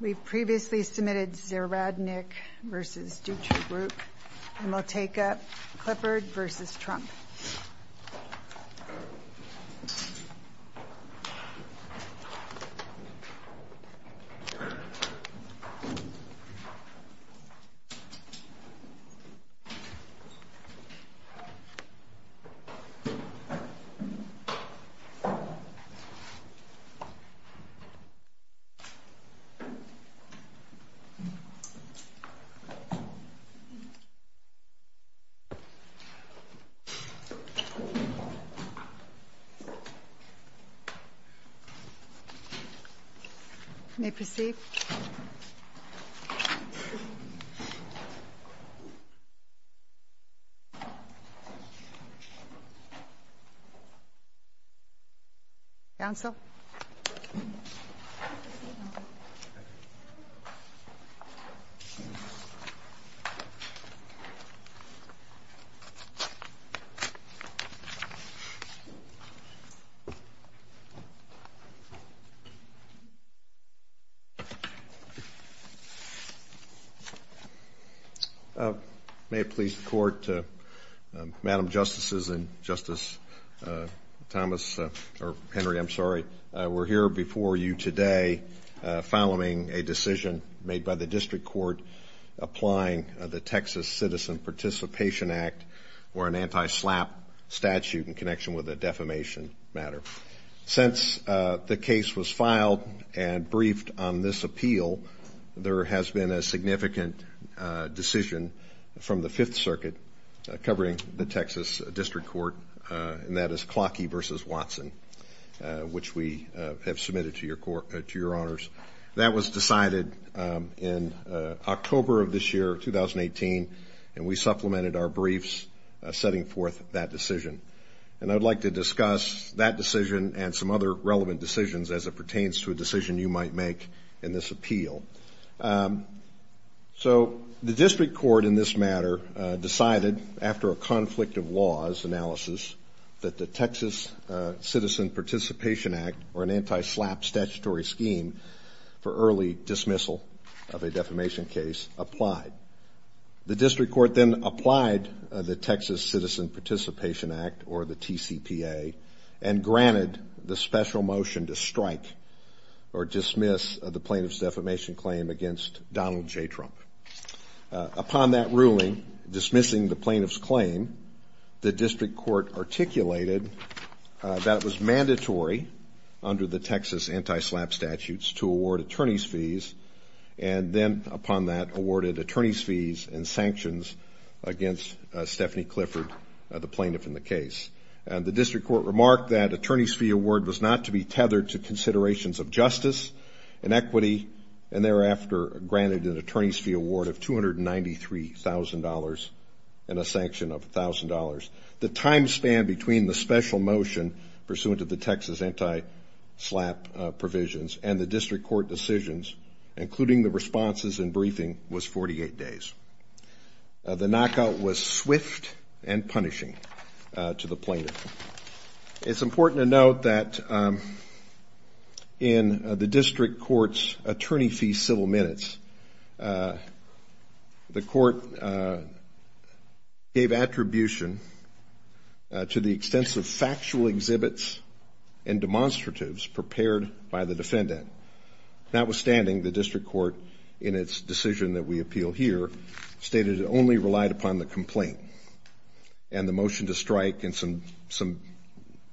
We've previously submitted Ziradnik v. Dutrybrook, and we'll take up Clifford v. Trump. May it please the Court, Madam Justices, and Justice Henry, we're here before you today following a decision made by the District Court applying the Texas Citizen Participation Act or an anti-SLAPP statute in connection with the defamation matter. Since the case was filed and briefed on this appeal, there has been a significant decision from the Fifth Circuit covering the Texas District Court, and that is Clockey v. Watson, which we have submitted to your honors. That was decided in October of this year, 2018, and we supplemented our briefs setting forth that decision. And I would like to discuss that decision and some other relevant decisions as it pertains to a decision you might make in this appeal. So the District Court in this matter decided after a conflict of laws analysis that the Texas Citizen Participation Act or an anti-SLAPP statutory scheme for early dismissal of a defamation case applied. The District Court then applied the Texas Citizen Participation Act or the TCPA and granted the special motion to strike or dismiss the plaintiff's defamation claim against Donald J. Trump. Upon that ruling, dismissing the plaintiff's claim, the District Court articulated that it was mandatory under the Texas anti-SLAPP statutes to award attorney's fees, and then upon that awarded attorney's fees and sanctions against Stephanie Clifford, the plaintiff in the case. The District Court remarked that attorney's fee award was not to be tethered to considerations of justice and equity and thereafter granted an attorney's fee award of $293,000 and a sanction of $1,000. The time span between the special motion pursuant to the Texas anti-SLAPP provisions and the District Court decisions, including the responses and briefing, was 48 days. The knockout was swift and punishing to the plaintiff. It's important to note that in the District Court's attorney fee civil minutes, the court gave attribution to the extensive factual exhibits and demonstratives prepared by the defendant. Notwithstanding, the District Court, in its decision that we appeal here, stated it only relied upon the complaint and the motion to strike and some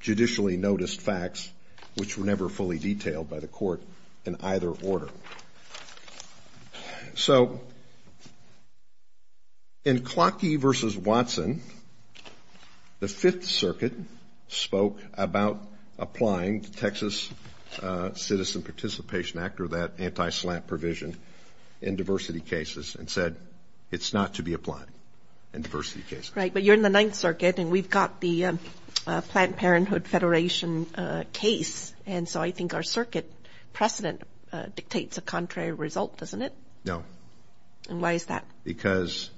judicially noticed facts, which were never fully detailed by the court in either order. So in Clockey v. Watson, the Fifth Circuit spoke about applying the Texas Citizen Participation Act or that anti-SLAPP provision in diversity cases and said it's not to be applied in diversity cases. Right, but you're in the Ninth Circuit and we've got the Planned Parenthood Federation case, and so I think our circuit precedent dictates a contrary result, doesn't it? No. And why is that? Because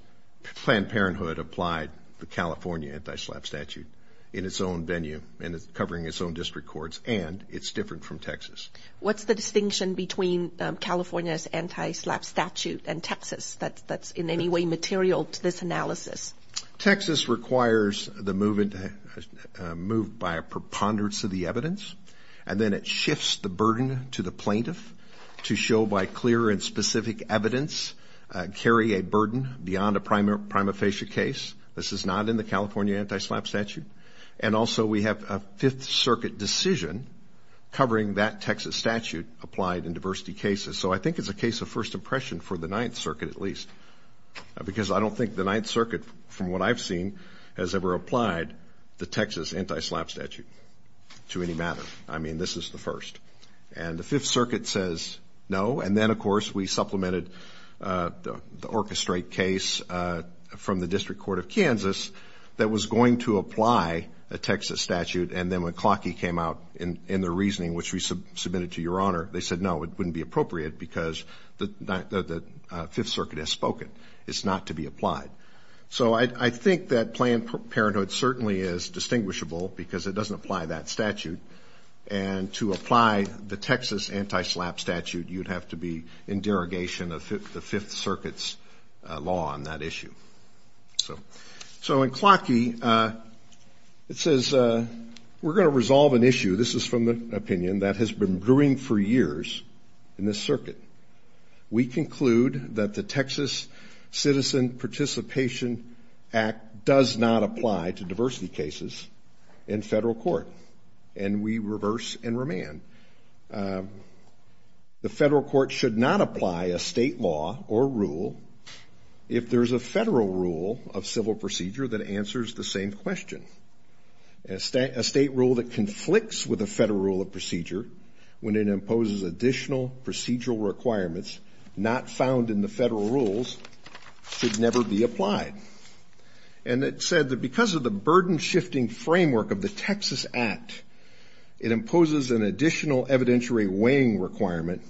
Planned Parenthood applied the California anti-SLAPP statute in its own venue and it's covering its own district courts and it's different from Texas. What's the distinction between California's anti-SLAPP statute and Texas that's in any way material to this analysis? Texas requires the move by a preponderance of the evidence, and then it shifts the burden to the plaintiff to show by clear and specific evidence, carry a burden beyond a prima facie case. This is not in the California anti-SLAPP statute. And also we have a Fifth Circuit decision covering that Texas statute applied in diversity cases. So I think it's a case of first impression for the Ninth Circuit at least because I don't think the Ninth Circuit, from what I've seen, has ever applied the Texas anti-SLAPP statute to any matter. I mean, this is the first. And the Fifth Circuit says no, and then, of course, we supplemented the orchestrate case from the District Court of Kansas that was going to apply a Texas statute, and then when Clockey came out in the reasoning which we submitted to Your Honor, they said no, it wouldn't be appropriate because the Fifth Circuit has spoken. It's not to be applied. So I think that Planned Parenthood certainly is distinguishable because it doesn't apply that statute. And to apply the Texas anti-SLAPP statute, you'd have to be in derogation of the Fifth Circuit's law on that issue. So in Clockey, it says we're going to resolve an issue. This is from the opinion that has been brewing for years in this circuit. We conclude that the Texas Citizen Participation Act does not apply to diversity cases in federal court, and we reverse and remand. The federal court should not apply a state law or rule if there's a federal rule of civil procedure that answers the same question. A state rule that conflicts with a federal rule of procedure when it imposes additional procedural requirements not found in the federal rules should never be applied. And it said that because of the burden-shifting framework of the Texas Act, it imposes an additional evidentiary weighing requirement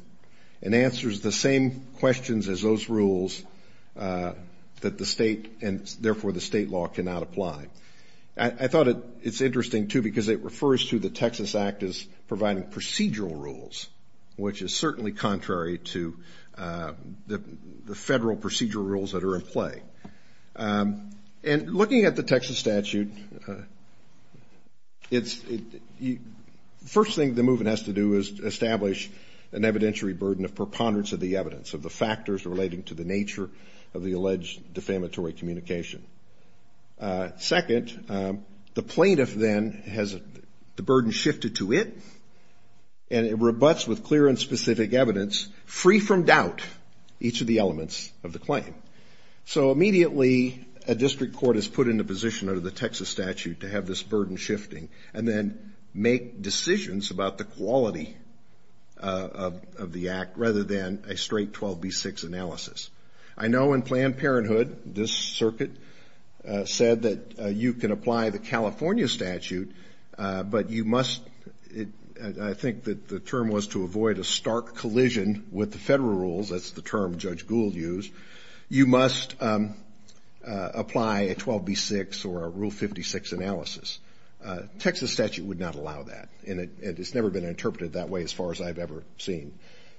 and answers the same questions as those rules that the state and therefore the state law cannot apply. I thought it's interesting, too, because it refers to the Texas Act as providing procedural rules, which is certainly contrary to the federal procedural rules that are in play. And looking at the Texas statute, the first thing the movement has to do is establish an evidentiary burden of preponderance of the evidence, of the factors relating to the nature of the alleged defamatory communication. Second, the plaintiff then has the burden shifted to it, and it rebuts with clear and specific evidence, free from doubt, each of the elements of the claim. So immediately a district court is put into position under the Texas statute to have this burden shifting and then make decisions about the quality of the act rather than a straight 12B6 analysis. I know in Planned Parenthood this circuit said that you can apply the California statute, but you must, I think that the term was to avoid a stark collision with the federal rules, that's the term Judge Gould used, you must apply a 12B6 or a Rule 56 analysis. Texas statute would not allow that, and it's never been interpreted that way as far as I've ever seen.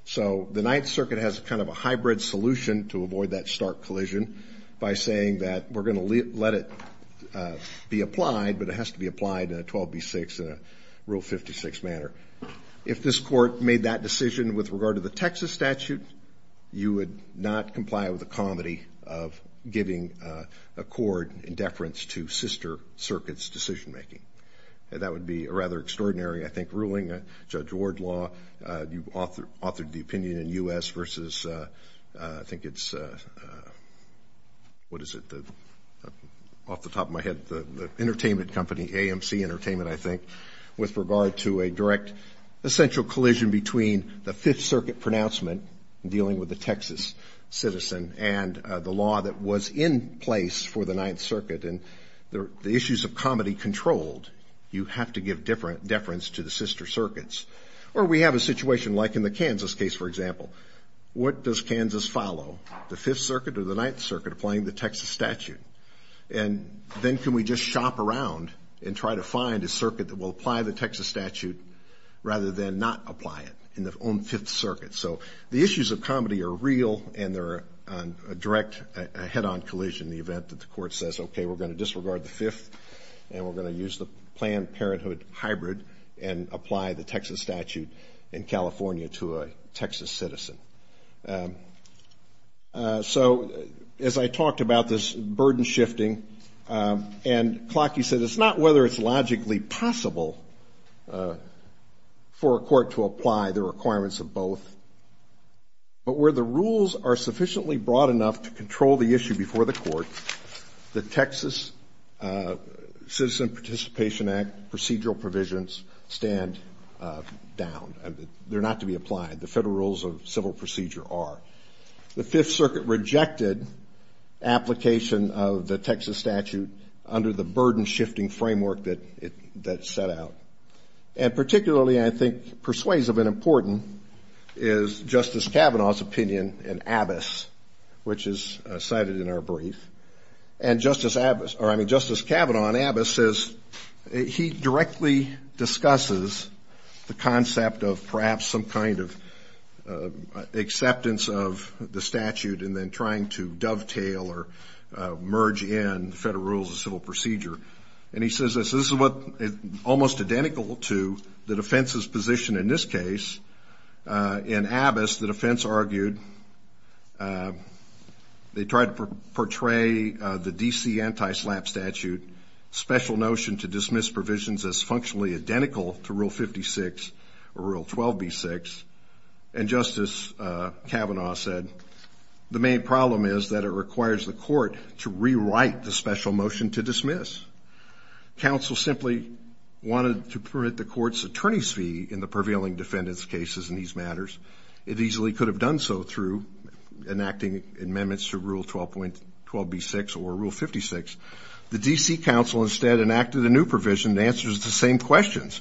So the Ninth Circuit has kind of a hybrid solution to avoid that stark collision by saying that we're going to let it be applied, but it has to be applied in a 12B6 and a Rule 56 manner. If this court made that decision with regard to the Texas statute, you would not comply with the comedy of giving a cord in deference to sister circuits' decision making. That would be a rather extraordinary, I think, ruling. Judge Wardlaw, you've authored the opinion in U.S. versus, I think it's, what is it, off the top of my head, the entertainment company, AMC Entertainment, I think, with regard to a direct essential collision between the Fifth Circuit pronouncement dealing with a Texas citizen and the law that was in place for the Ninth Circuit. And the issues of comedy controlled, you have to give deference to the sister circuits. Or we have a situation like in the Kansas case, for example. What does Kansas follow, the Fifth Circuit or the Ninth Circuit, applying the Texas statute? And then can we just shop around and try to find a circuit that will apply the Texas statute rather than not apply it in their own Fifth Circuit? So the issues of comedy are real, and they're a direct, a head-on collision in the event that the court says, okay, we're going to disregard the Fifth, and we're going to use the Planned Parenthood hybrid and apply the Texas statute in California to a Texas citizen. So as I talked about this burden shifting, and Clocky said, it's not whether it's logically possible for a court to apply the requirements of both, but where the rules are sufficiently broad enough to control the issue before the court, the Texas Citizen Participation Act procedural provisions stand down. They're not to be applied. The federal rules of civil procedure are. The Fifth Circuit rejected application of the Texas statute under the burden shifting framework that it set out. And particularly, I think, persuasive and important is Justice Kavanaugh's opinion in Abbess, which is cited in our brief. And Justice Kavanaugh in Abbess says he directly discusses the concept of perhaps some kind of acceptance of the statute and then trying to dovetail or merge in federal rules of civil procedure. And he says this is almost identical to the defense's position in this case. In Abbess, the defense argued they tried to portray the D.C. anti-SLAPP statute, special notion to dismiss provisions as functionally identical to Rule 56 or Rule 12B6. And Justice Kavanaugh said the main problem is that it requires the court to rewrite the special motion to dismiss. Counsel simply wanted to permit the court's attorney's fee in the prevailing defendant's cases in these matters. It easily could have done so through enacting amendments to Rule 12B6 or Rule 56. The D.C. counsel instead enacted a new provision that answers the same questions,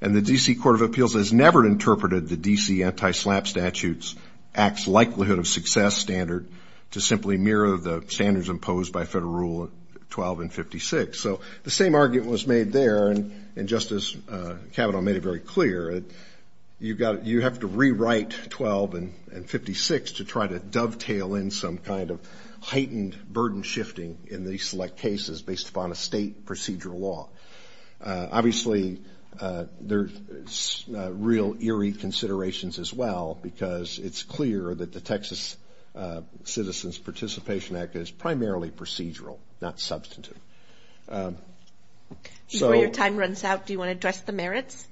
and the D.C. Court of Appeals has never interpreted the D.C. anti-SLAPP statute's acts likelihood of success standard to simply mirror the standards imposed by federal Rule 12 and 56. So the same argument was made there, and Justice Kavanaugh made it very clear. You have to rewrite 12 and 56 to try to dovetail in some kind of heightened burden shifting in these select cases based upon a state procedural law. Obviously, there's real eerie considerations as well, because it's clear that the Texas Citizens Participation Act is primarily procedural, not substantive. Before your time runs out, do you want to address the merits?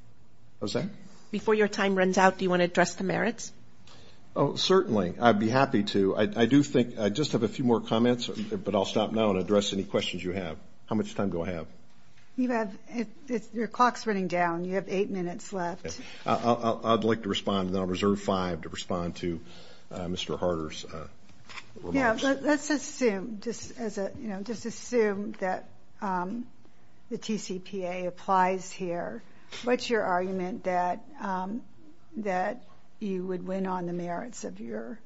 What was that? Before your time runs out, do you want to address the merits? Certainly. I'd be happy to. I just have a few more comments, but I'll stop now and address any questions you have. How much time do I have? Your clock's running down. You have eight minutes left. I'd like to respond, and then I'll reserve five to respond to Mr. Harder's remarks. Let's assume, just assume that the TCPA applies here. What's your argument that you would win on the merits of your case?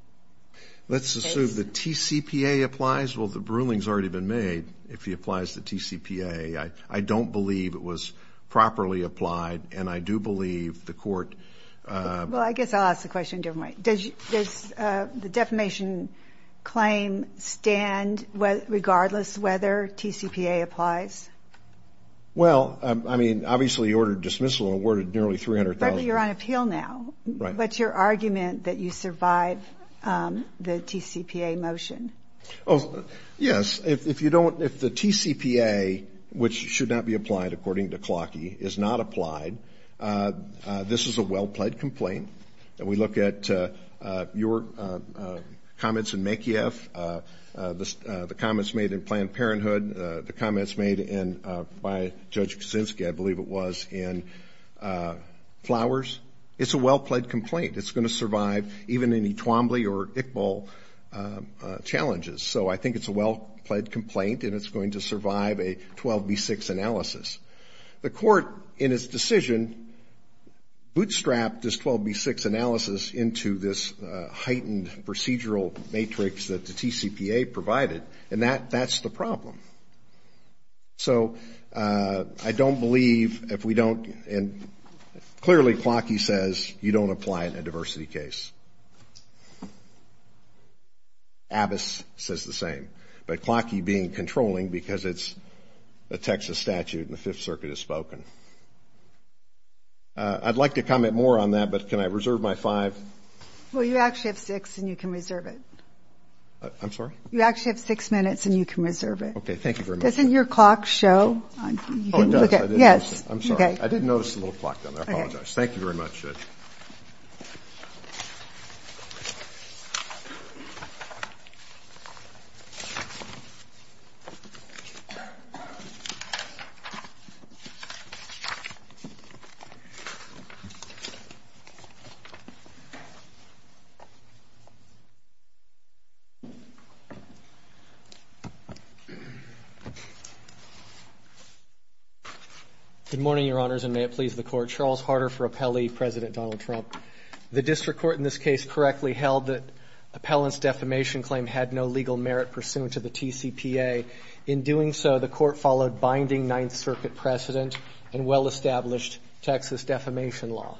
Let's assume the TCPA applies. Well, the ruling's already been made. If he applies the TCPA, I don't believe it was properly applied, and I do believe the court ---- Well, I guess I'll ask the question a different way. Does the defamation claim stand regardless whether TCPA applies? Well, I mean, obviously you ordered dismissal and awarded nearly $300,000. Right, but you're on appeal now. Right. What's your argument that you survive the TCPA motion? Oh, yes. If you don't ---- if the TCPA, which should not be applied according to Clawkey, is not applied, this is a well-pled complaint. And we look at your comments in Mekieff, the comments made in Planned Parenthood, the comments made by Judge Kuczynski, I believe it was, in Flowers. It's a well-pled complaint. It's going to survive even any Twombly or Iqbal challenges. So I think it's a well-pled complaint, and it's going to survive a 12B6 analysis. The court, in its decision, bootstrapped this 12B6 analysis into this heightened procedural matrix that the TCPA provided, and that's the problem. So I don't believe if we don't ---- and clearly Clawkey says you don't apply in a diversity case. Abbess says the same. But Clawkey being controlling because it's a Texas statute and the Fifth Circuit has spoken. I'd like to comment more on that, but can I reserve my five? Well, you actually have six, and you can reserve it. I'm sorry? You actually have six minutes, and you can reserve it. Okay. Thank you very much. Doesn't your clock show? Oh, it does. I didn't notice it. Yes. I'm sorry. I didn't notice the little clock down there. I apologize. Thank you very much. Good morning, Your Honors, and may it please the Court. My name is Charles Harder for Appellee, President Donald Trump. The district court in this case correctly held that Appellant's defamation claim had no legal merit pursuant to the TCPA. In doing so, the Court followed binding Ninth Circuit precedent and well-established Texas defamation law.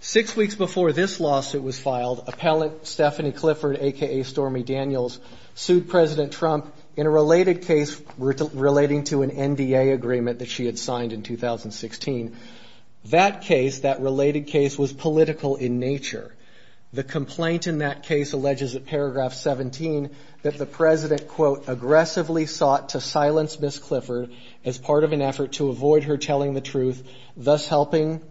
Six weeks before this lawsuit was filed, Appellant Stephanie Clifford, a.k.a. Stormy Daniels, sued President Trump in a related case relating to an NDA agreement that she had signed in 2016. That case, that related case, was political in nature. The complaint in that case alleges at paragraph 17 that the President, quote, aggressively sought to silence Ms. Clifford as part of an effort to avoid her telling the truth, thus helping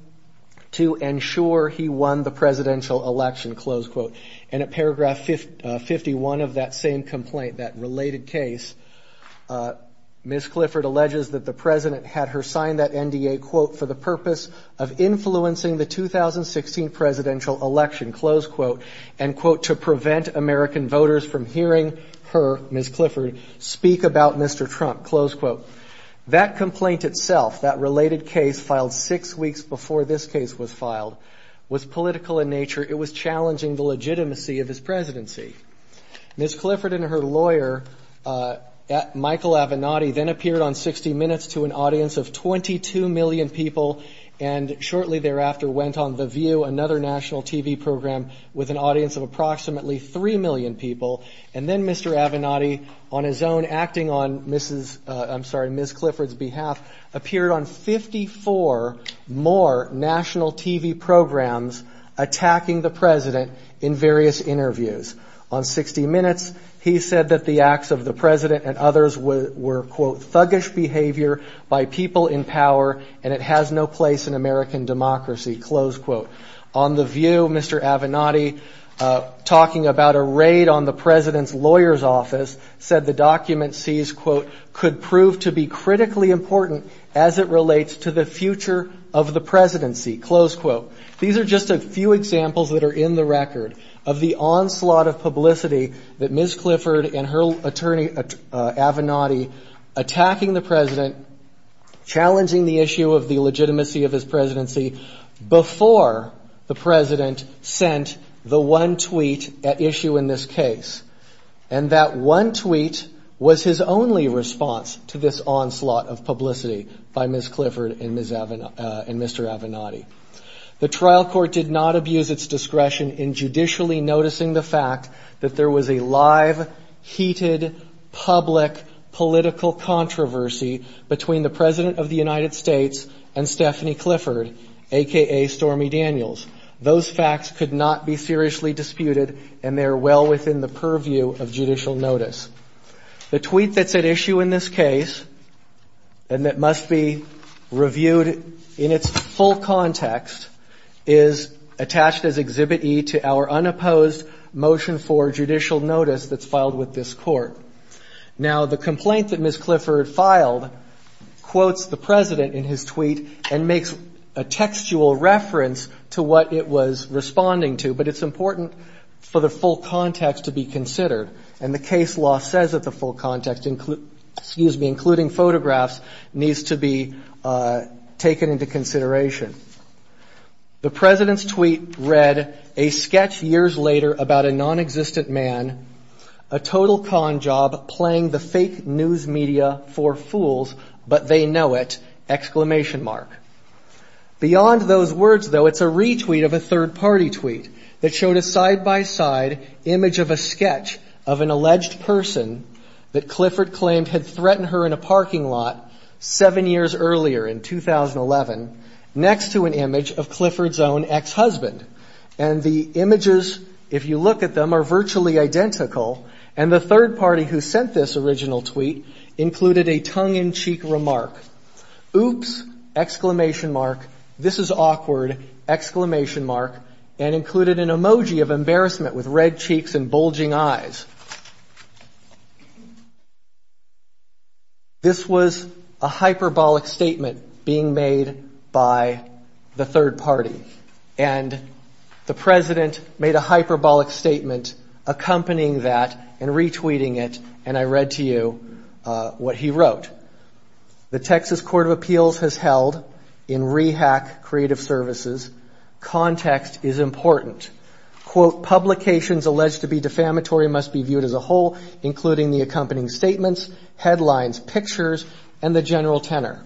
to ensure he won the presidential election, close quote. And at paragraph 51 of that same complaint, that related case, Ms. Clifford alleges that the President had her sign that NDA, quote, for the purpose of influencing the 2016 presidential election, close quote, and, quote, to prevent American voters from hearing her, Ms. Clifford, speak about Mr. Trump, close quote. That complaint itself, that related case filed six weeks before this case was filed, was political in nature. It was challenging the legitimacy of his presidency. Ms. Clifford and her lawyer, Michael Avenatti, then appeared on 60 Minutes to an audience of 22 million people and shortly thereafter went on The View, another national TV program, with an audience of approximately 3 million people. And then Mr. Avenatti, on his own, acting on Ms. Clifford's behalf, appeared on 54 more national TV programs attacking the President in various interviews. On 60 Minutes, he said that the acts of the President and others were, quote, thuggish behavior by people in power and it has no place in American democracy, close quote. On The View, Mr. Avenatti, talking about a raid on the President's lawyer's office, said the document sees, quote, could prove to be critically important as it relates to the future of the presidency, close quote. These are just a few examples that are in the record of the onslaught of publicity that Ms. Clifford and her attorney, Avenatti, attacking the President, challenging the issue of the legitimacy of his presidency, before the President sent the one tweet at issue in this case. And that one tweet was his only response to this onslaught of publicity by Ms. Clifford and Mr. Avenatti. The trial court did not abuse its discretion in judicially noticing the fact that there was a live, heated, public, political controversy between the President of the United States and Stephanie Clifford, a.k.a. Stormy Daniels. Those facts could not be seriously disputed and they are well within the purview of judicial notice. The tweet that's at issue in this case, and that must be reviewed in its full context, is attached as Exhibit E to our unopposed motion for judicial notice that's filed with this court. Now, the complaint that Ms. Clifford filed quotes the President in his tweet and makes a textual reference to what it was responding to, but it's important for the full context to be considered. And the case law says that the full context, excuse me, including photographs, needs to be taken into consideration. The President's tweet read, a sketch years later about a nonexistent man, a total con job playing the fake news media for fools, but they know it! Beyond those words, though, it's a retweet of a third-party tweet that showed a side-by-side image of a sketch of an alleged person that Clifford claimed had threatened her in a parking lot seven years earlier in 2011, next to an image of Clifford's own ex-husband. And the images, if you look at them, are virtually identical, and the third party who sent this original tweet included a tongue-in-cheek remark, oops, exclamation mark, this is awkward, exclamation mark, and included an emoji of embarrassment with red cheeks and bulging eyes. This was a hyperbolic statement being made by the third party. And the President made a hyperbolic statement accompanying that and retweeting it, and I read to you what he wrote. The Texas Court of Appeals has held, in REHAC Creative Services, context is important. Publications alleged to be defamatory must be viewed as a whole, including the accompanying statements, headlines, pictures, and the general tenor.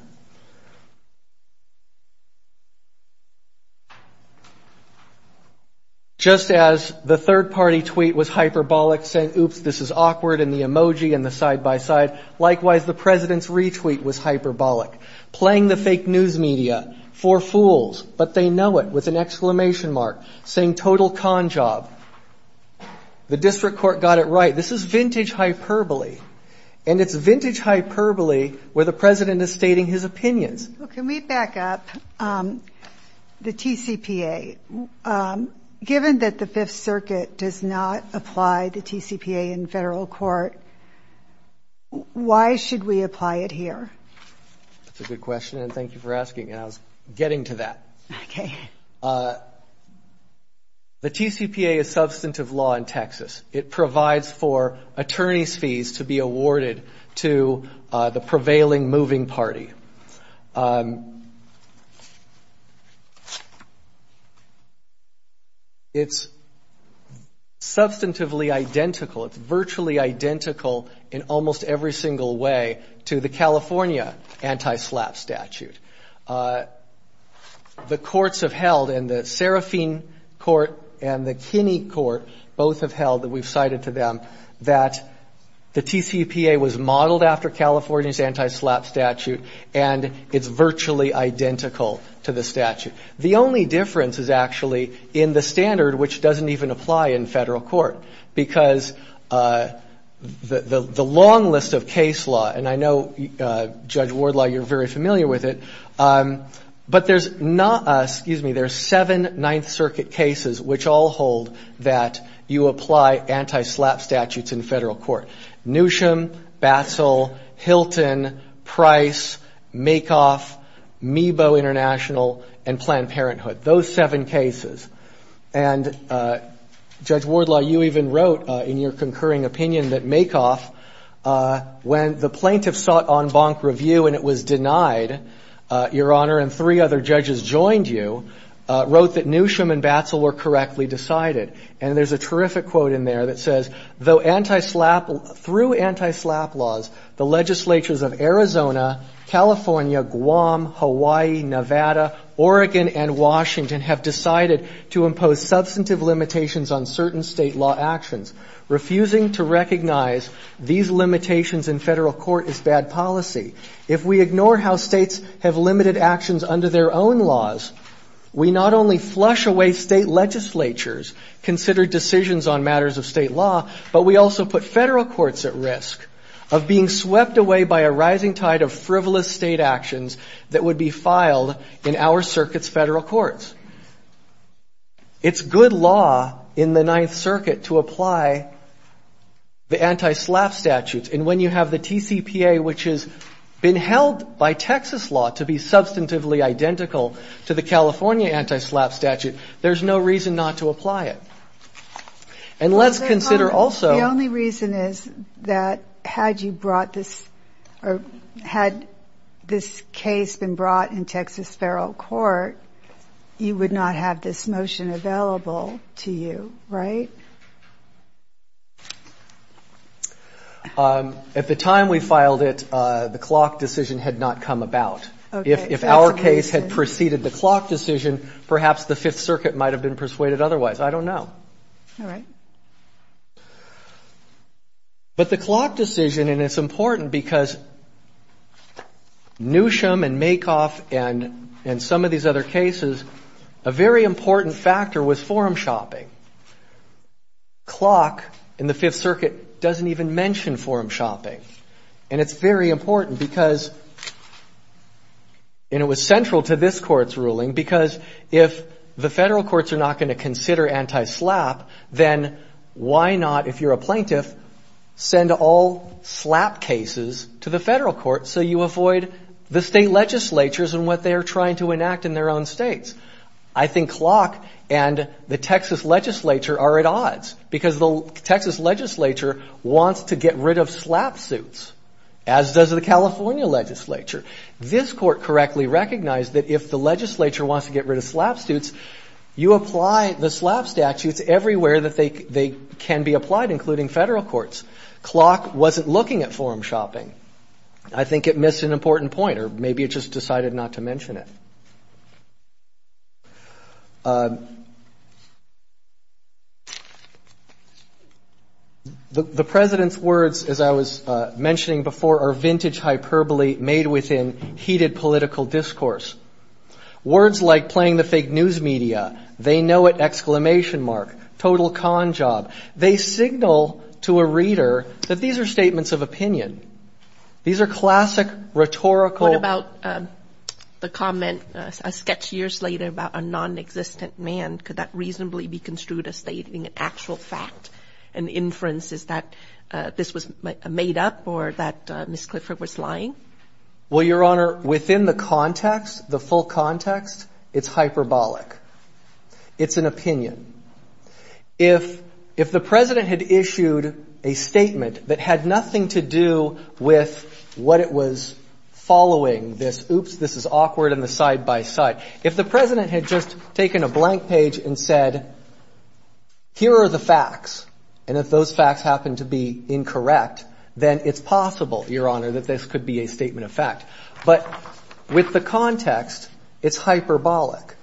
Just as the third-party tweet was hyperbolic, saying oops, this is awkward, and the emoji and the side-by-side, likewise, the President's retweet was hyperbolic, playing the fake news media for fools, but they know it, with an exclamation mark, saying total con job. The district court got it right. This is vintage hyperbole, and it's vintage hyperbole where the President is stating his opinions. Can we back up? The TCPA, given that the Fifth Circuit does not apply the TCPA in federal court, why should we apply it here? That's a good question, and thank you for asking, and I was getting to that. The TCPA is substantive law in Texas. It provides for attorneys' fees to be awarded to the prevailing moving party. It's substantively identical. It's virtually identical in almost every single way to the California anti-SLAPP statute. The courts have held, and the Serafine Court and the Kinney Court both have held, that we've cited to them, that the TCPA was modeled after California's anti-SLAPP statute, and it's virtually identical to the statute. The only difference is actually in the standard, which doesn't even apply in federal court, because the long list of case law, and I know, Judge Wardlaw, you're very familiar with it, but there's not, excuse me, there's seven Ninth Circuit cases, which all hold that you apply anti-SLAPP statute in federal court, Newsham, Batzel, Hilton, Price, Makeoff, Meebo International, and Planned Parenthood, those seven cases, and Judge Wardlaw, you even wrote in your concurring opinion that Makeoff, when the plaintiff sought en banc review and it was denied, Your Honor, and three other judges joined you, wrote that Newsham and Batzel were correctly decided, and there's a terrific quote in there that says, though anti-SLAPP, through anti-SLAPP laws, the legislatures of Arizona, California, Guam, Hawaii, Nevada, Oregon, and Washington have decided to impose substantive limitations on certain state law actions, refusing to recognize these limitations in federal court as bad policy. If we ignore how states have limited actions under their own laws, we not only flush away state legislatures, consider decisions on matters of state law, but we also put federal courts at risk of being swept away by a rising tide of frivolous state actions that would be filed in our circuit's federal courts. It's good law in the Ninth Circuit to apply the anti-SLAPP statutes, and when you have the TCPA, which has been held by Texas law to be substantively identical to the California anti-SLAPP statute, there's no reason not to apply it. And let's consider also... The only reason is that had you brought this, or had this case been brought in Texas federal court, you would not have this motion available to you, right? At the time we filed it, the clock decision had not come about. If our case had preceded the clock decision, perhaps the Fifth Circuit might have been persuaded otherwise. I don't know. But the clock decision, and it's important because Newsham and Makoff and some of these other cases, a very important factor was forum shopping. Clock in the Fifth Circuit doesn't even mention forum shopping. And it's very important because, and it was central to this court's ruling, because if the federal courts are not going to consider anti-SLAPP, then why not, if you're a plaintiff, send all SLAPP cases to the federal court so you avoid the state legislatures and what they're trying to enact in their own states? I think clock and the Texas legislature are at odds, because the Texas legislature wants to get rid of SLAPP suits, as does the California legislature. This court correctly recognized that if the legislature wants to get rid of SLAPP suits, you apply the SLAPP statutes everywhere that they can be applied, including federal courts. Clock wasn't looking at forum shopping. I think it missed an important point, or maybe it just decided not to mention it. The president's words, as I was mentioning before, are vintage hyperbole made within heated political discourse. Words like playing the fake news media, they know it, exclamation mark, total con job. They signal to a reader that these are statements of opinion. These are classic rhetorical... And the inference is that this was made up or that Ms. Clifford was lying? Well, Your Honor, within the context, the full context, it's hyperbolic. It's an opinion. If the president had issued a statement that had nothing to do with what it was following, this oops, this is awkward, and the side-by-side, if the president had just taken a blank page and said, here are the facts, and if those facts happen to be incorrect, then it's possible, Your Honor, that this could be a statement of fact. But with the context, it's hyperbolic.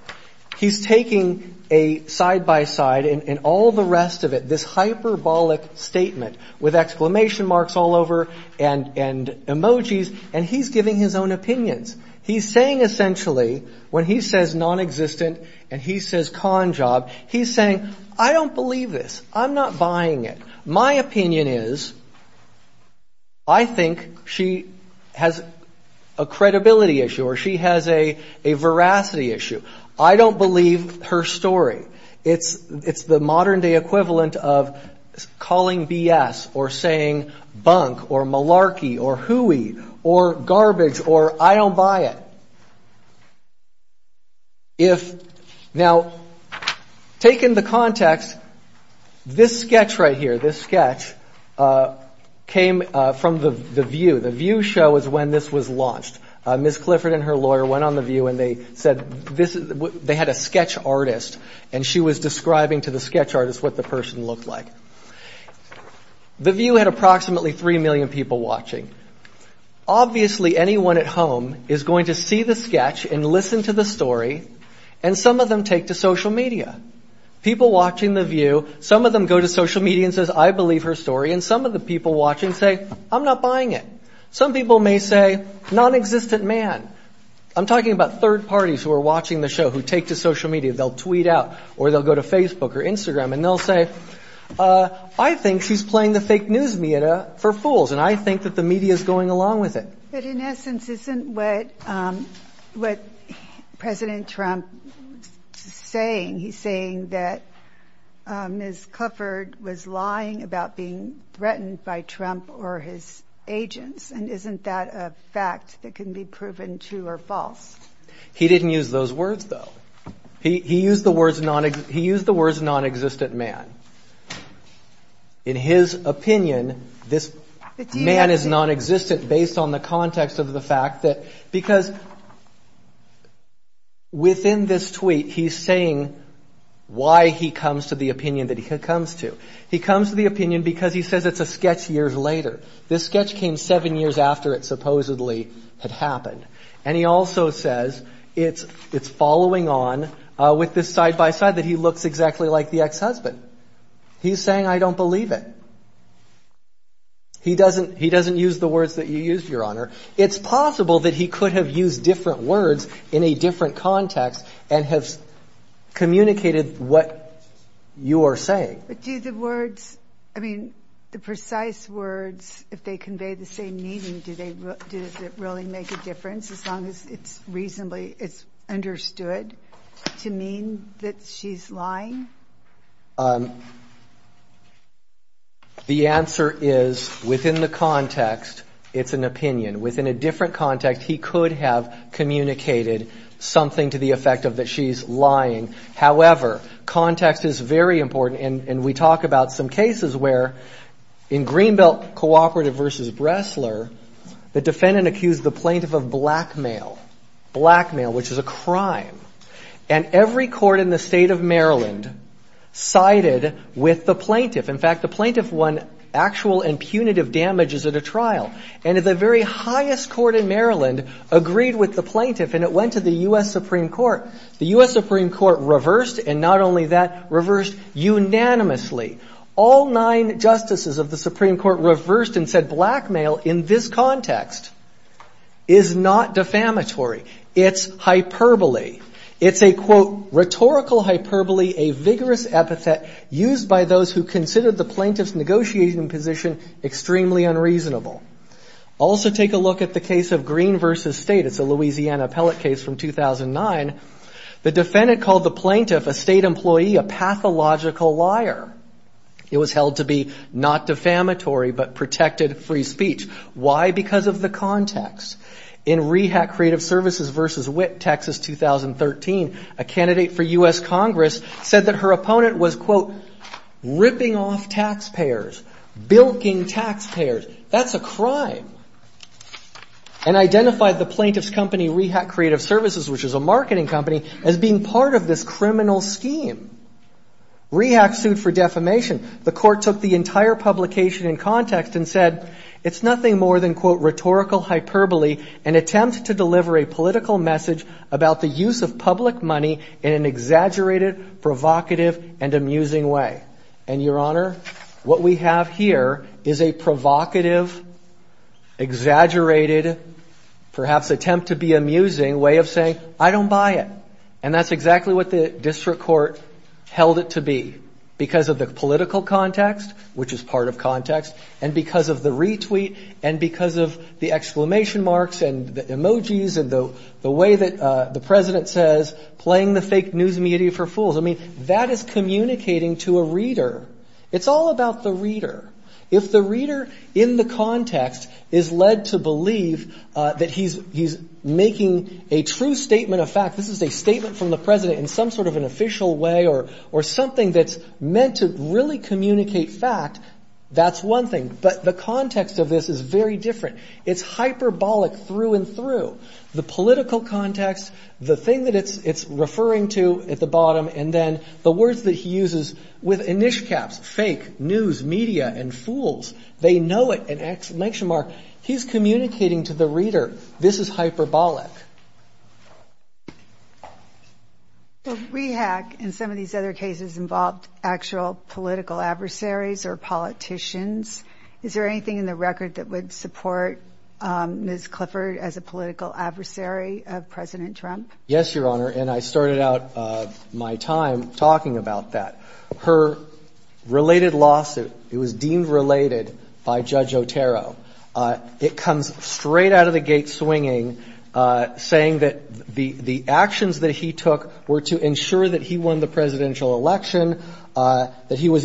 He's taking a side-by-side and all the rest of it, this hyperbolic statement, with exclamation marks all over and emojis, and he's giving his own opinions. He's saying, essentially, when he says nonexistent and he says con job, he's saying, I don't believe this. I'm not buying it. My opinion is, I think she has a credibility issue or she has a veracity issue. I don't believe her story. It's the modern-day equivalent of calling B.S. or saying bunk or malarkey or hooey or garbage or I don't buy it. Now, taking the context, this sketch right here, this sketch, came from The View. The View show is when this was launched. Ms. Clifford and her lawyer went on The View and they said they had a sketch artist and she was describing to the sketch artist what the person looked like. The View had approximately 3 million people watching. Obviously, anyone at home is going to see the sketch and listen to the story and some of them take to social media. People watching The View, some of them go to social media and say, I believe her story and some of the people watching say, I'm not buying it. Some people may say, nonexistent man. I'm talking about third parties who are watching the show who take to social media. They'll tweet out or they'll go to Facebook or Instagram and they'll say, I think she's playing the fake news media for fools and I think that the media is going along with it. But in essence, isn't what President Trump is saying, he's saying that Ms. Clifford was lying about being threatened by Trump or his agents and isn't that a fact that can be proven true or false? He didn't use those words, though. He used the words nonexistent man. In his opinion, this man is nonexistent based on the context of the fact that, because within this tweet he's saying why he comes to the opinion that he comes to. He comes to the opinion because he says it's a sketch years later. This sketch came seven years after it supposedly had happened. And he also says it's following on with this side-by-side that he looks exactly like the ex-husband. He's saying, I don't believe it. He doesn't use the words that you used, Your Honor. It's possible that he could have used different words in a different context and have communicated what you are saying. But do the words, I mean, the precise words, if they convey the same meaning, do they really make a difference as long as it's reasonably understood to mean that she's lying? The answer is within the context, it's an opinion. Within a different context, he could have communicated something to the effect of that she's lying. However, context is very important. And we talk about some cases where, in Greenbelt Cooperative v. Bressler, the defendant accused the plaintiff of blackmail, blackmail, which is a crime. And every court in the state of Maryland sided with the plaintiff. In fact, the plaintiff won actual and punitive damages at a trial. And the very highest court in Maryland agreed with the plaintiff, and it went to the U.S. Supreme Court. The U.S. Supreme Court reversed, and not only that, reversed unanimously. All nine justices of the Supreme Court reversed and said blackmail in this context is not defamatory. It's hyperbole. It's a, quote, rhetorical hyperbole, a vigorous epithet used by those who considered the plaintiff's negotiating position extremely unreasonable. Also take a look at the case of Green v. State. It's a Louisiana appellate case from 2009. The defendant called the plaintiff a state employee, a pathological liar. It was held to be not defamatory, but protected free speech. Why? Because of the context. In Rehab Creative Services v. Witt, Texas, 2013, a candidate for U.S. Congress said that her opponent was, quote, ripping off taxpayers, bilking taxpayers. That's a crime. And identified the plaintiff's company, Rehab Creative Services, which is a marketing company, as being part of this criminal scheme. Rehab sued for defamation. The court took the entire publication in context and said it's nothing more than, quote, rhetorical hyperbole, an attempt to deliver a political message about the use of public money in an exaggerated, provocative, and amusing way. And, Your Honor, what we have here is a provocative, exaggerated, perhaps attempt to be amusing way of saying, I don't buy it. And that's exactly what the district court held it to be, because of the political context, which is part of context, and because of the retweet, and because of the exclamation marks and the emojis and the way that the district court used media for fools. I mean, that is communicating to a reader. It's all about the reader. If the reader in the context is led to believe that he's making a true statement of fact, this is a statement from the president in some sort of an official way, or something that's meant to really communicate fact, that's one thing. But the context of this is very different. It's hyperbolic through and through. The political context, the thing that it's referring to at the bottom, and then the words that he uses with inishcaps, fake, news, media, and fools, they know it, an exclamation mark. He's communicating to the reader, this is hyperbolic. Rehack and some of these other cases involved actual political adversaries or politicians. Is there anything in the record that would support Ms. Clifford as a political adversary of President Trump? Yes, Your Honor, and I started out my time talking about that. Her related lawsuit, it was deemed related by Judge Otero. It comes straight out of the gate swinging, saying that the actions that he took were to ensure that he won the presidential election, that he was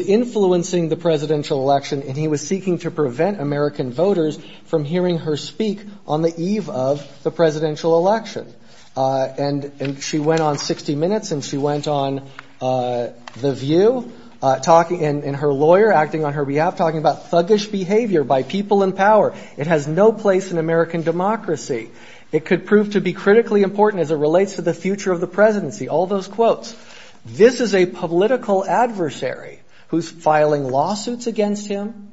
safe from hearing her speak on the eve of the presidential election. And she went on 60 Minutes, and she went on The View, and her lawyer acting on her behalf, talking about thuggish behavior by people in power. It has no place in American democracy. It could prove to be critically important as it relates to the future of the presidency. All those quotes. This is a political adversary who's filing lawsuits against him,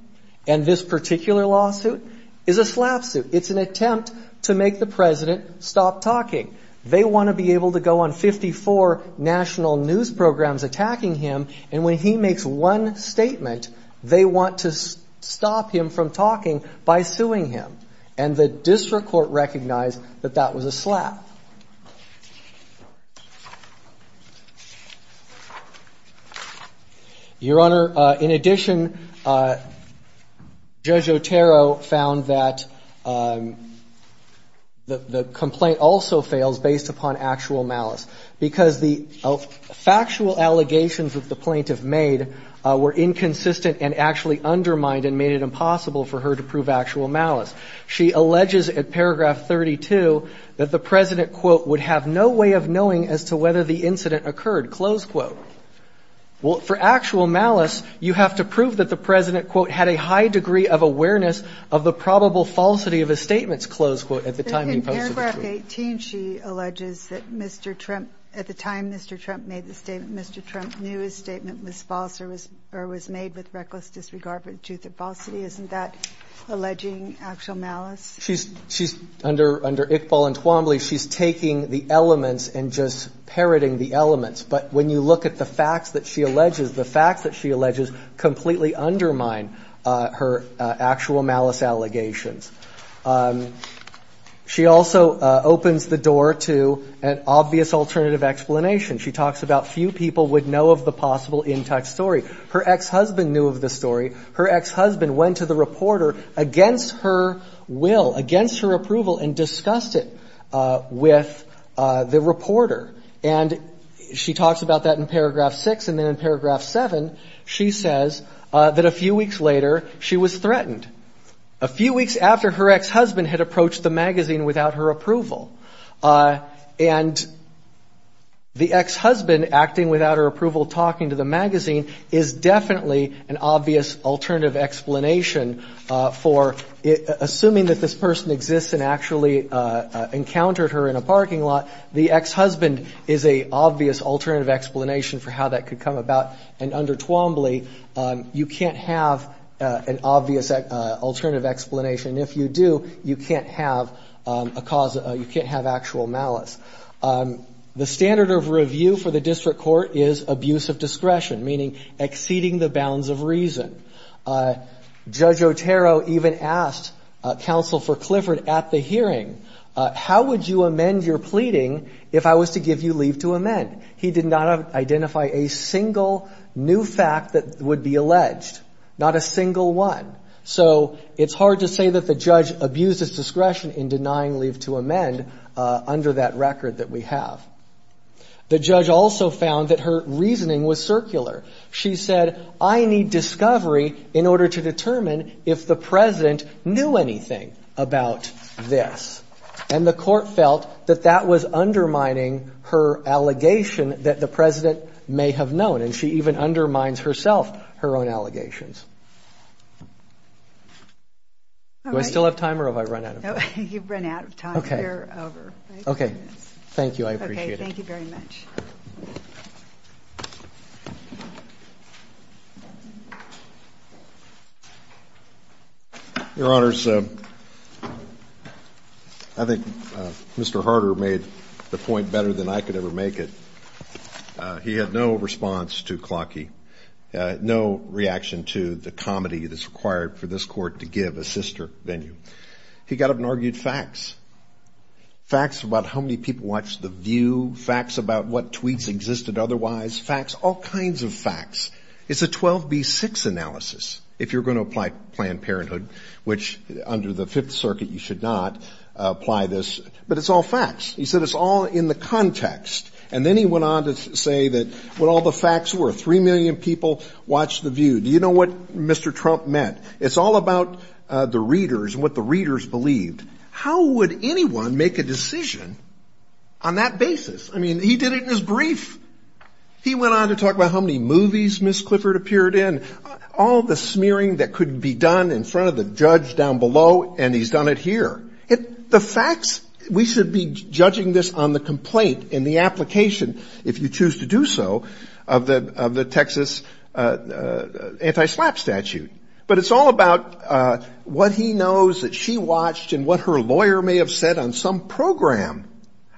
and this particular lawsuit is a slap suit. It's an attempt to make the president stop talking. They want to be able to go on 54 national news programs attacking him, and when he makes one statement, they want to stop him from talking by suing him. And the district court recognized that that was a slap. Your Honor, in addition, Judge Otero found that the complaint also fails based upon actual malice, because the factual allegations that the plaintiff made were inconsistent and actually undermined and made it impossible for her to prove actual malice. She alleges at paragraph 32 that the president, quote, would have no way of knowing as to whether the incident occurred, close quote. Well, for actual malice, you have to prove that the president, quote, had a high degree of awareness of the probable falsity of his statements, close quote, at the time he posted the tweet. At paragraph 18, she alleges that Mr. Trump, at the time Mr. Trump made the statement, Mr. Trump knew his statement was false or was made with false evidence. She's, under Iqbal and Twombly, she's taking the elements and just parroting the elements. But when you look at the facts that she alleges, the facts that she alleges completely undermine her actual malice allegations. She also opens the door to an obvious alternative explanation. She talks about few people would know of the possible in-touch story. Her ex-husband knew of the story. Her ex-husband went to the reporter against her will, against her will, against her will. And he went to her and asked for her approval and discussed it with the reporter. And she talks about that in paragraph 6. And then in paragraph 7, she says that a few weeks later, she was threatened. A few weeks after her ex-husband had approached the magazine without her approval. And the ex-husband acting without her approval, talking to the magazine, is definitely an obvious alternative explanation for, assuming that this person exists and actually encountered her in a parking lot, the ex-husband is an obvious alternative explanation for how that could come about. And under Twombly, you can't have an obvious alternative explanation. And if you do, you can't have a cause, you can't have actual malice. The standard of review for the district court is abuse of discretion, meaning exceeding the bounds of reason. Judge Otero even asked Counsel for Clifford at the hearing, how would you amend your pleading if I was to give you leave to amend? He did not identify a single new fact that would be alleged. Not a single one. So it's hard to say that the judge abused his discretion in denying leave to amend under that record that we have. The judge also found that her reasoning was circular. She said, I need discovery in order to make my case. She said, I need to determine if the President knew anything about this. And the court felt that that was undermining her allegation that the President may have known. And she even undermines herself, her own allegations. Do I still have time or have I run out of time? You've run out of time. You're over. Your Honors, I think Mr. Harder made the point better than I could ever make it. He had no response to Clawkey, no reaction to the comedy that's required for this court to give a sister venue. He got up and argued facts. Facts about how many people watched the view, facts about what tweets existed otherwise, facts, all kinds of facts. It's a 12B6 analysis if you're going to apply Planned Parenthood, which under the Fifth Circuit you should not apply this. But it's all facts. He said it's all in the context. And then he went on to say that what all the facts were, 3 million people watched the view. Do you know what Mr. Trump meant? It's all about the readers and what the readers believed. How would anyone make a decision on that basis? I mean, he did it in his brief. He went on to talk about how many movies Ms. Clifford appeared in, all the smearing that could be done in front of the judge down below, and he's done it here. The facts, we should be judging this on the complaint and the application, if you choose to do so, of the Texas anti-SLAPP statute. But it's all about what he knows that she watched and what her lawyer may have said on some program.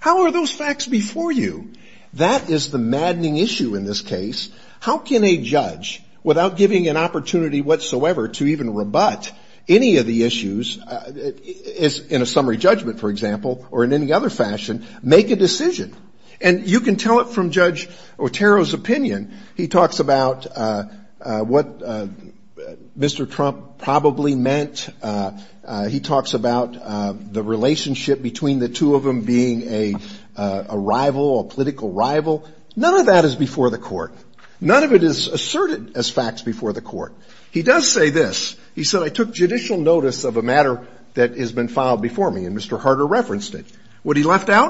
How are those facts before you? That is the maddening issue in this case. How can a judge, without giving an opportunity whatsoever to even rebut any of the issues, in a summary judgment, for example, or in any other fashion, make a decision? And you can tell it from Judge Otero's opinion. He talks about what Mr. Trump probably meant. He talks about the relationship between the two of them being a rival, a political rival. None of that is before the court. None of it is asserted as facts before the court. He does say this. He said, I took judicial notice of a matter that has been filed before me, and Mr. Harder referenced it. He said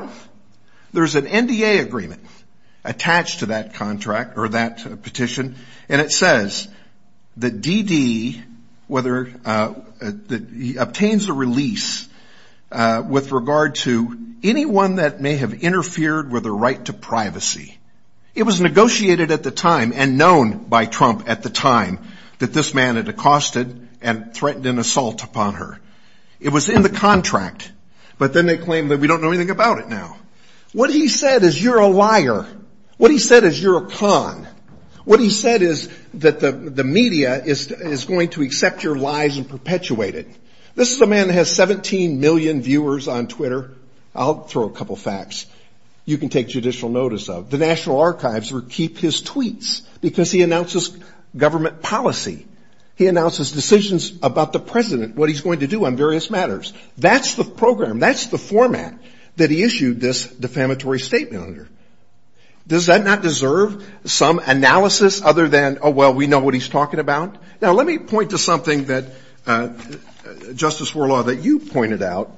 that he obtains a release with regard to anyone that may have interfered with her right to privacy. It was negotiated at the time and known by Trump at the time that this man had accosted and threatened an assault upon her. It was in the contract, but then they claimed that we don't know anything about it now. What he said is you're a liar. What he said is you're a con. What he said is that the media is going to accept your lies and perpetuate it. This is a man that has 17 million viewers on Twitter. I'll throw a couple facts you can take judicial notice of. The National Archives will keep his tweets because he announces government policy. He announces decisions about the president, what he's going to do on various matters. That's the program, that's the format that he issued this defamatory statement under. Does that not deserve some analysis other than, oh, well, we know what he's talking about? Now, let me point to something that, Justice Worlau, that you pointed out.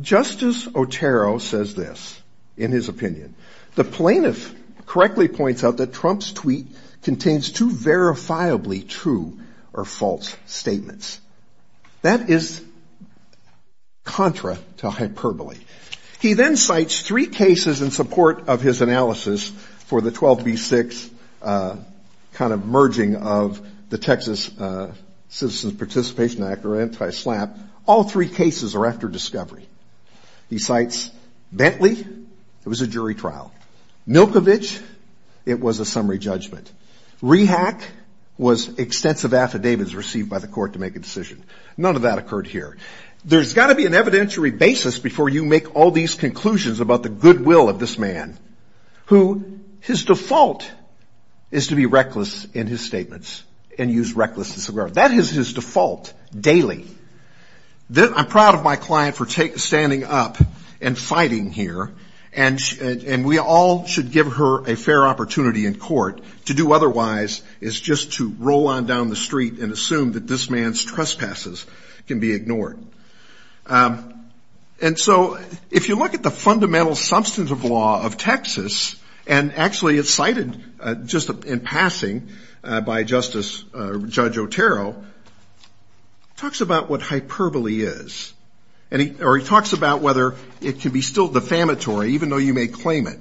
Justice Otero says this in his opinion. The plaintiff correctly points out that Trump's tweet contains two verifiably true or false statements. That is contra to hyperbole. He then cites three cases in support of his analysis for the 12B6 kind of merging of the Texas Citizens Participation Act or anti-SLAPP. All three cases are after discovery. He cites Bentley, it was a jury trial. Milkovich, it was a summary judgment. Rehack was extensive affidavits received by the court to make a decision. None of that occurred here. There's got to be an evidentiary basis before you make all these conclusions about the goodwill of this man, who his default is to be reckless in his statements and use recklessness. That is his default daily. I'm proud of my client for standing up and fighting here. And we all should give her a fair opportunity in court. To do otherwise is just to roll on down the street and assume that this man's trespasses can be ignored. And so if you look at the fundamental substance of law of Texas, and actually it's cited just in passing by Justice Judge Otero, talks about what hyperbole is. Or he talks about whether it can be still defamatory, even though you may claim it.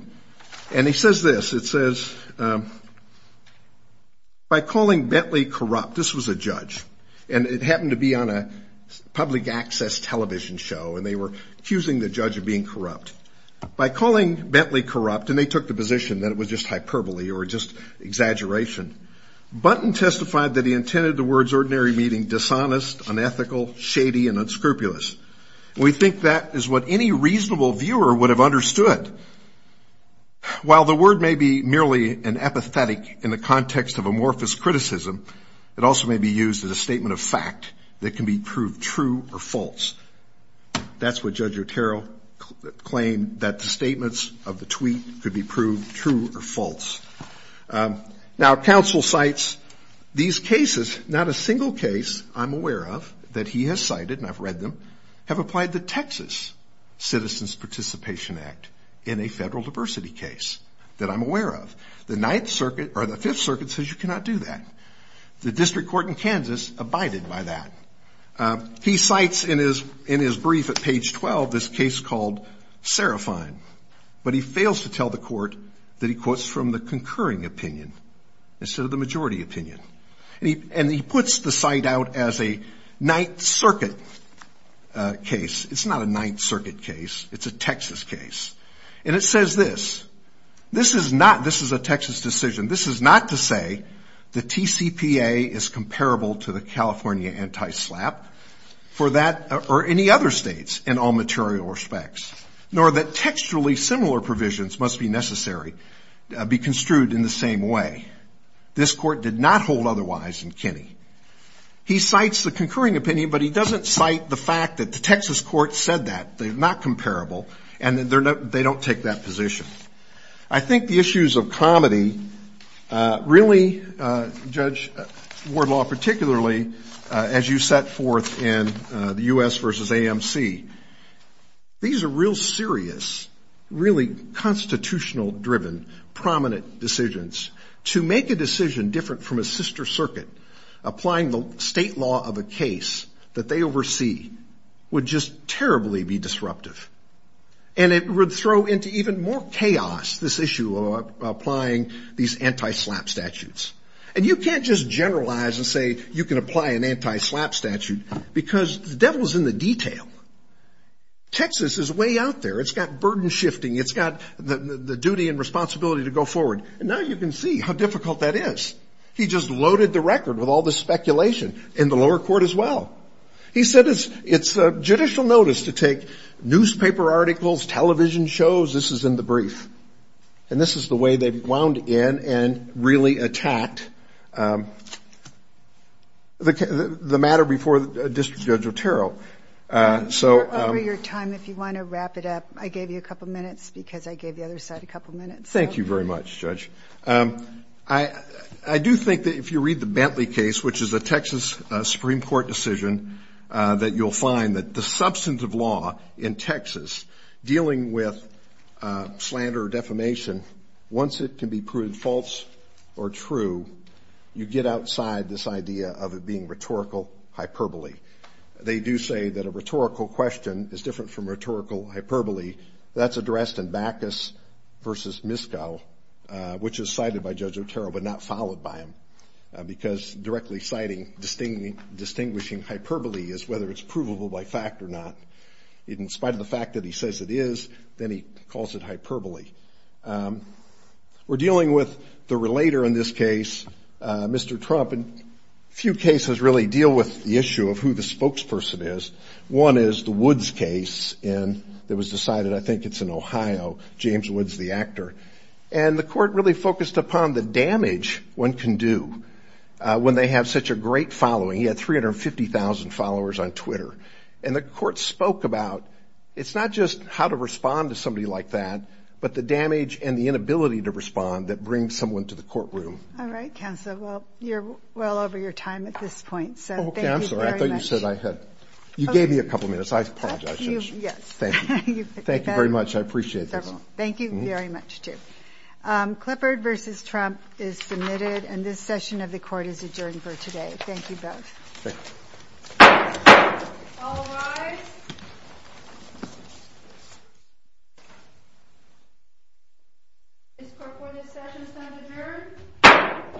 And he says this, it says, by calling Bentley corrupt, this was a judge. And it happened to be on a public access television show, and they were accusing the judge of being corrupt. By calling Bentley corrupt, and they took the position that it was just hyperbole or just exaggeration, Button testified that he intended the words ordinary meaning dishonest, unethical, shady, and unscrupulous. We think that is what any reasonable viewer would have understood. While the word may be merely an apathetic in the context of amorphous criticism, it also may be used as a statement of fact that can be proved true or false. That's what Judge Otero claimed, that the statements of the tweet could be proved true or false. Now counsel cites these cases, not a single case I'm aware of that he has cited, and I've read them, have applied the Texas Citizens Participation Act in a federal diversity case that I'm aware of. The Ninth Circuit, or the Fifth Circuit, says you cannot do that. The District Court in Kansas abided by that. He cites in his brief at page 12 this case called Seraphine, but he fails to tell the court that he quotes from the concurring opinion instead of the majority opinion. And he puts the cite out as a Ninth Circuit case. It's not a Ninth Circuit case, it's a Texas case. And it says this, this is not, this is a Texas decision. This is not to say the TCPA is comparable to the California anti-SLAPP for that, or any other states in all material respects, nor that textually similar provisions must be necessary, be construed in the same way. This court did not hold otherwise in Kinney. He cites the concurring opinion, but he doesn't cite the fact that the Texas court said that. They're not comparable, and they don't take that position. I think the issues of comedy really, Judge Wardlaw, particularly as you set forth in the U.S. versus AMC, these are real serious, really constitutional-driven, prominent decisions. To make a decision different from a sister circuit, applying the state law of a case that they oversee, would just terribly be disruptive. And it would throw into even more chaos this issue of applying these anti-SLAPP statutes. And you can't just generalize and say you can apply an anti-SLAPP statute, because the devil's in the detail. Texas is way out there. It's got burden shifting. It's got the duty and responsibility to go forward. And now you can see how difficult that is. He just loaded the record with all the speculation in the lower court as well. He said it's judicial notice to take newspaper articles, television shows. This is in the brief. And this is the way they wound in and really attacked the matter before District Judge Otero. Over your time, if you want to wrap it up, I gave you a couple minutes, because I gave the other side a couple minutes. Thank you very much, Judge. I do think that if you read the Bentley case, which is a Texas Supreme Court decision, that you'll find that the substantive law in Texas dealing with slander or defamation, once it can be proved false or true, you get outside this idea of it being rhetorical hyperbole. They do say that a rhetorical question is different from rhetorical hyperbole. That's addressed in Backus v. Miskow, which is cited by Judge Otero but not followed by him, because directly citing distinguishing hyperbole is whether it's provable by fact or not. In spite of the fact that he says it is, then he calls it hyperbole. We're dealing with the relator in this case, Mr. Trump, and few cases really deal with the issue of who the spokesperson is. One is the Woods case that was decided, I think it's in Ohio, James Woods, the actor. And the court really focused upon the damage one can do when they have such a great following. He had 350,000 followers on Twitter. And the court spoke about it's not just how to respond to somebody like that, but the damage and the inability to respond that brings someone to the courtroom. All right, counsel. Well, you're well over your time at this point, so thank you very much. You gave me a couple of minutes. I apologize. Thank you. Thank you very much. I appreciate this. Thank you very much, too. Klippard v. Trump is submitted, and this session of the court is adjourned for today. Thank you both. All rise. Ms. Karpour, this session is now adjourned.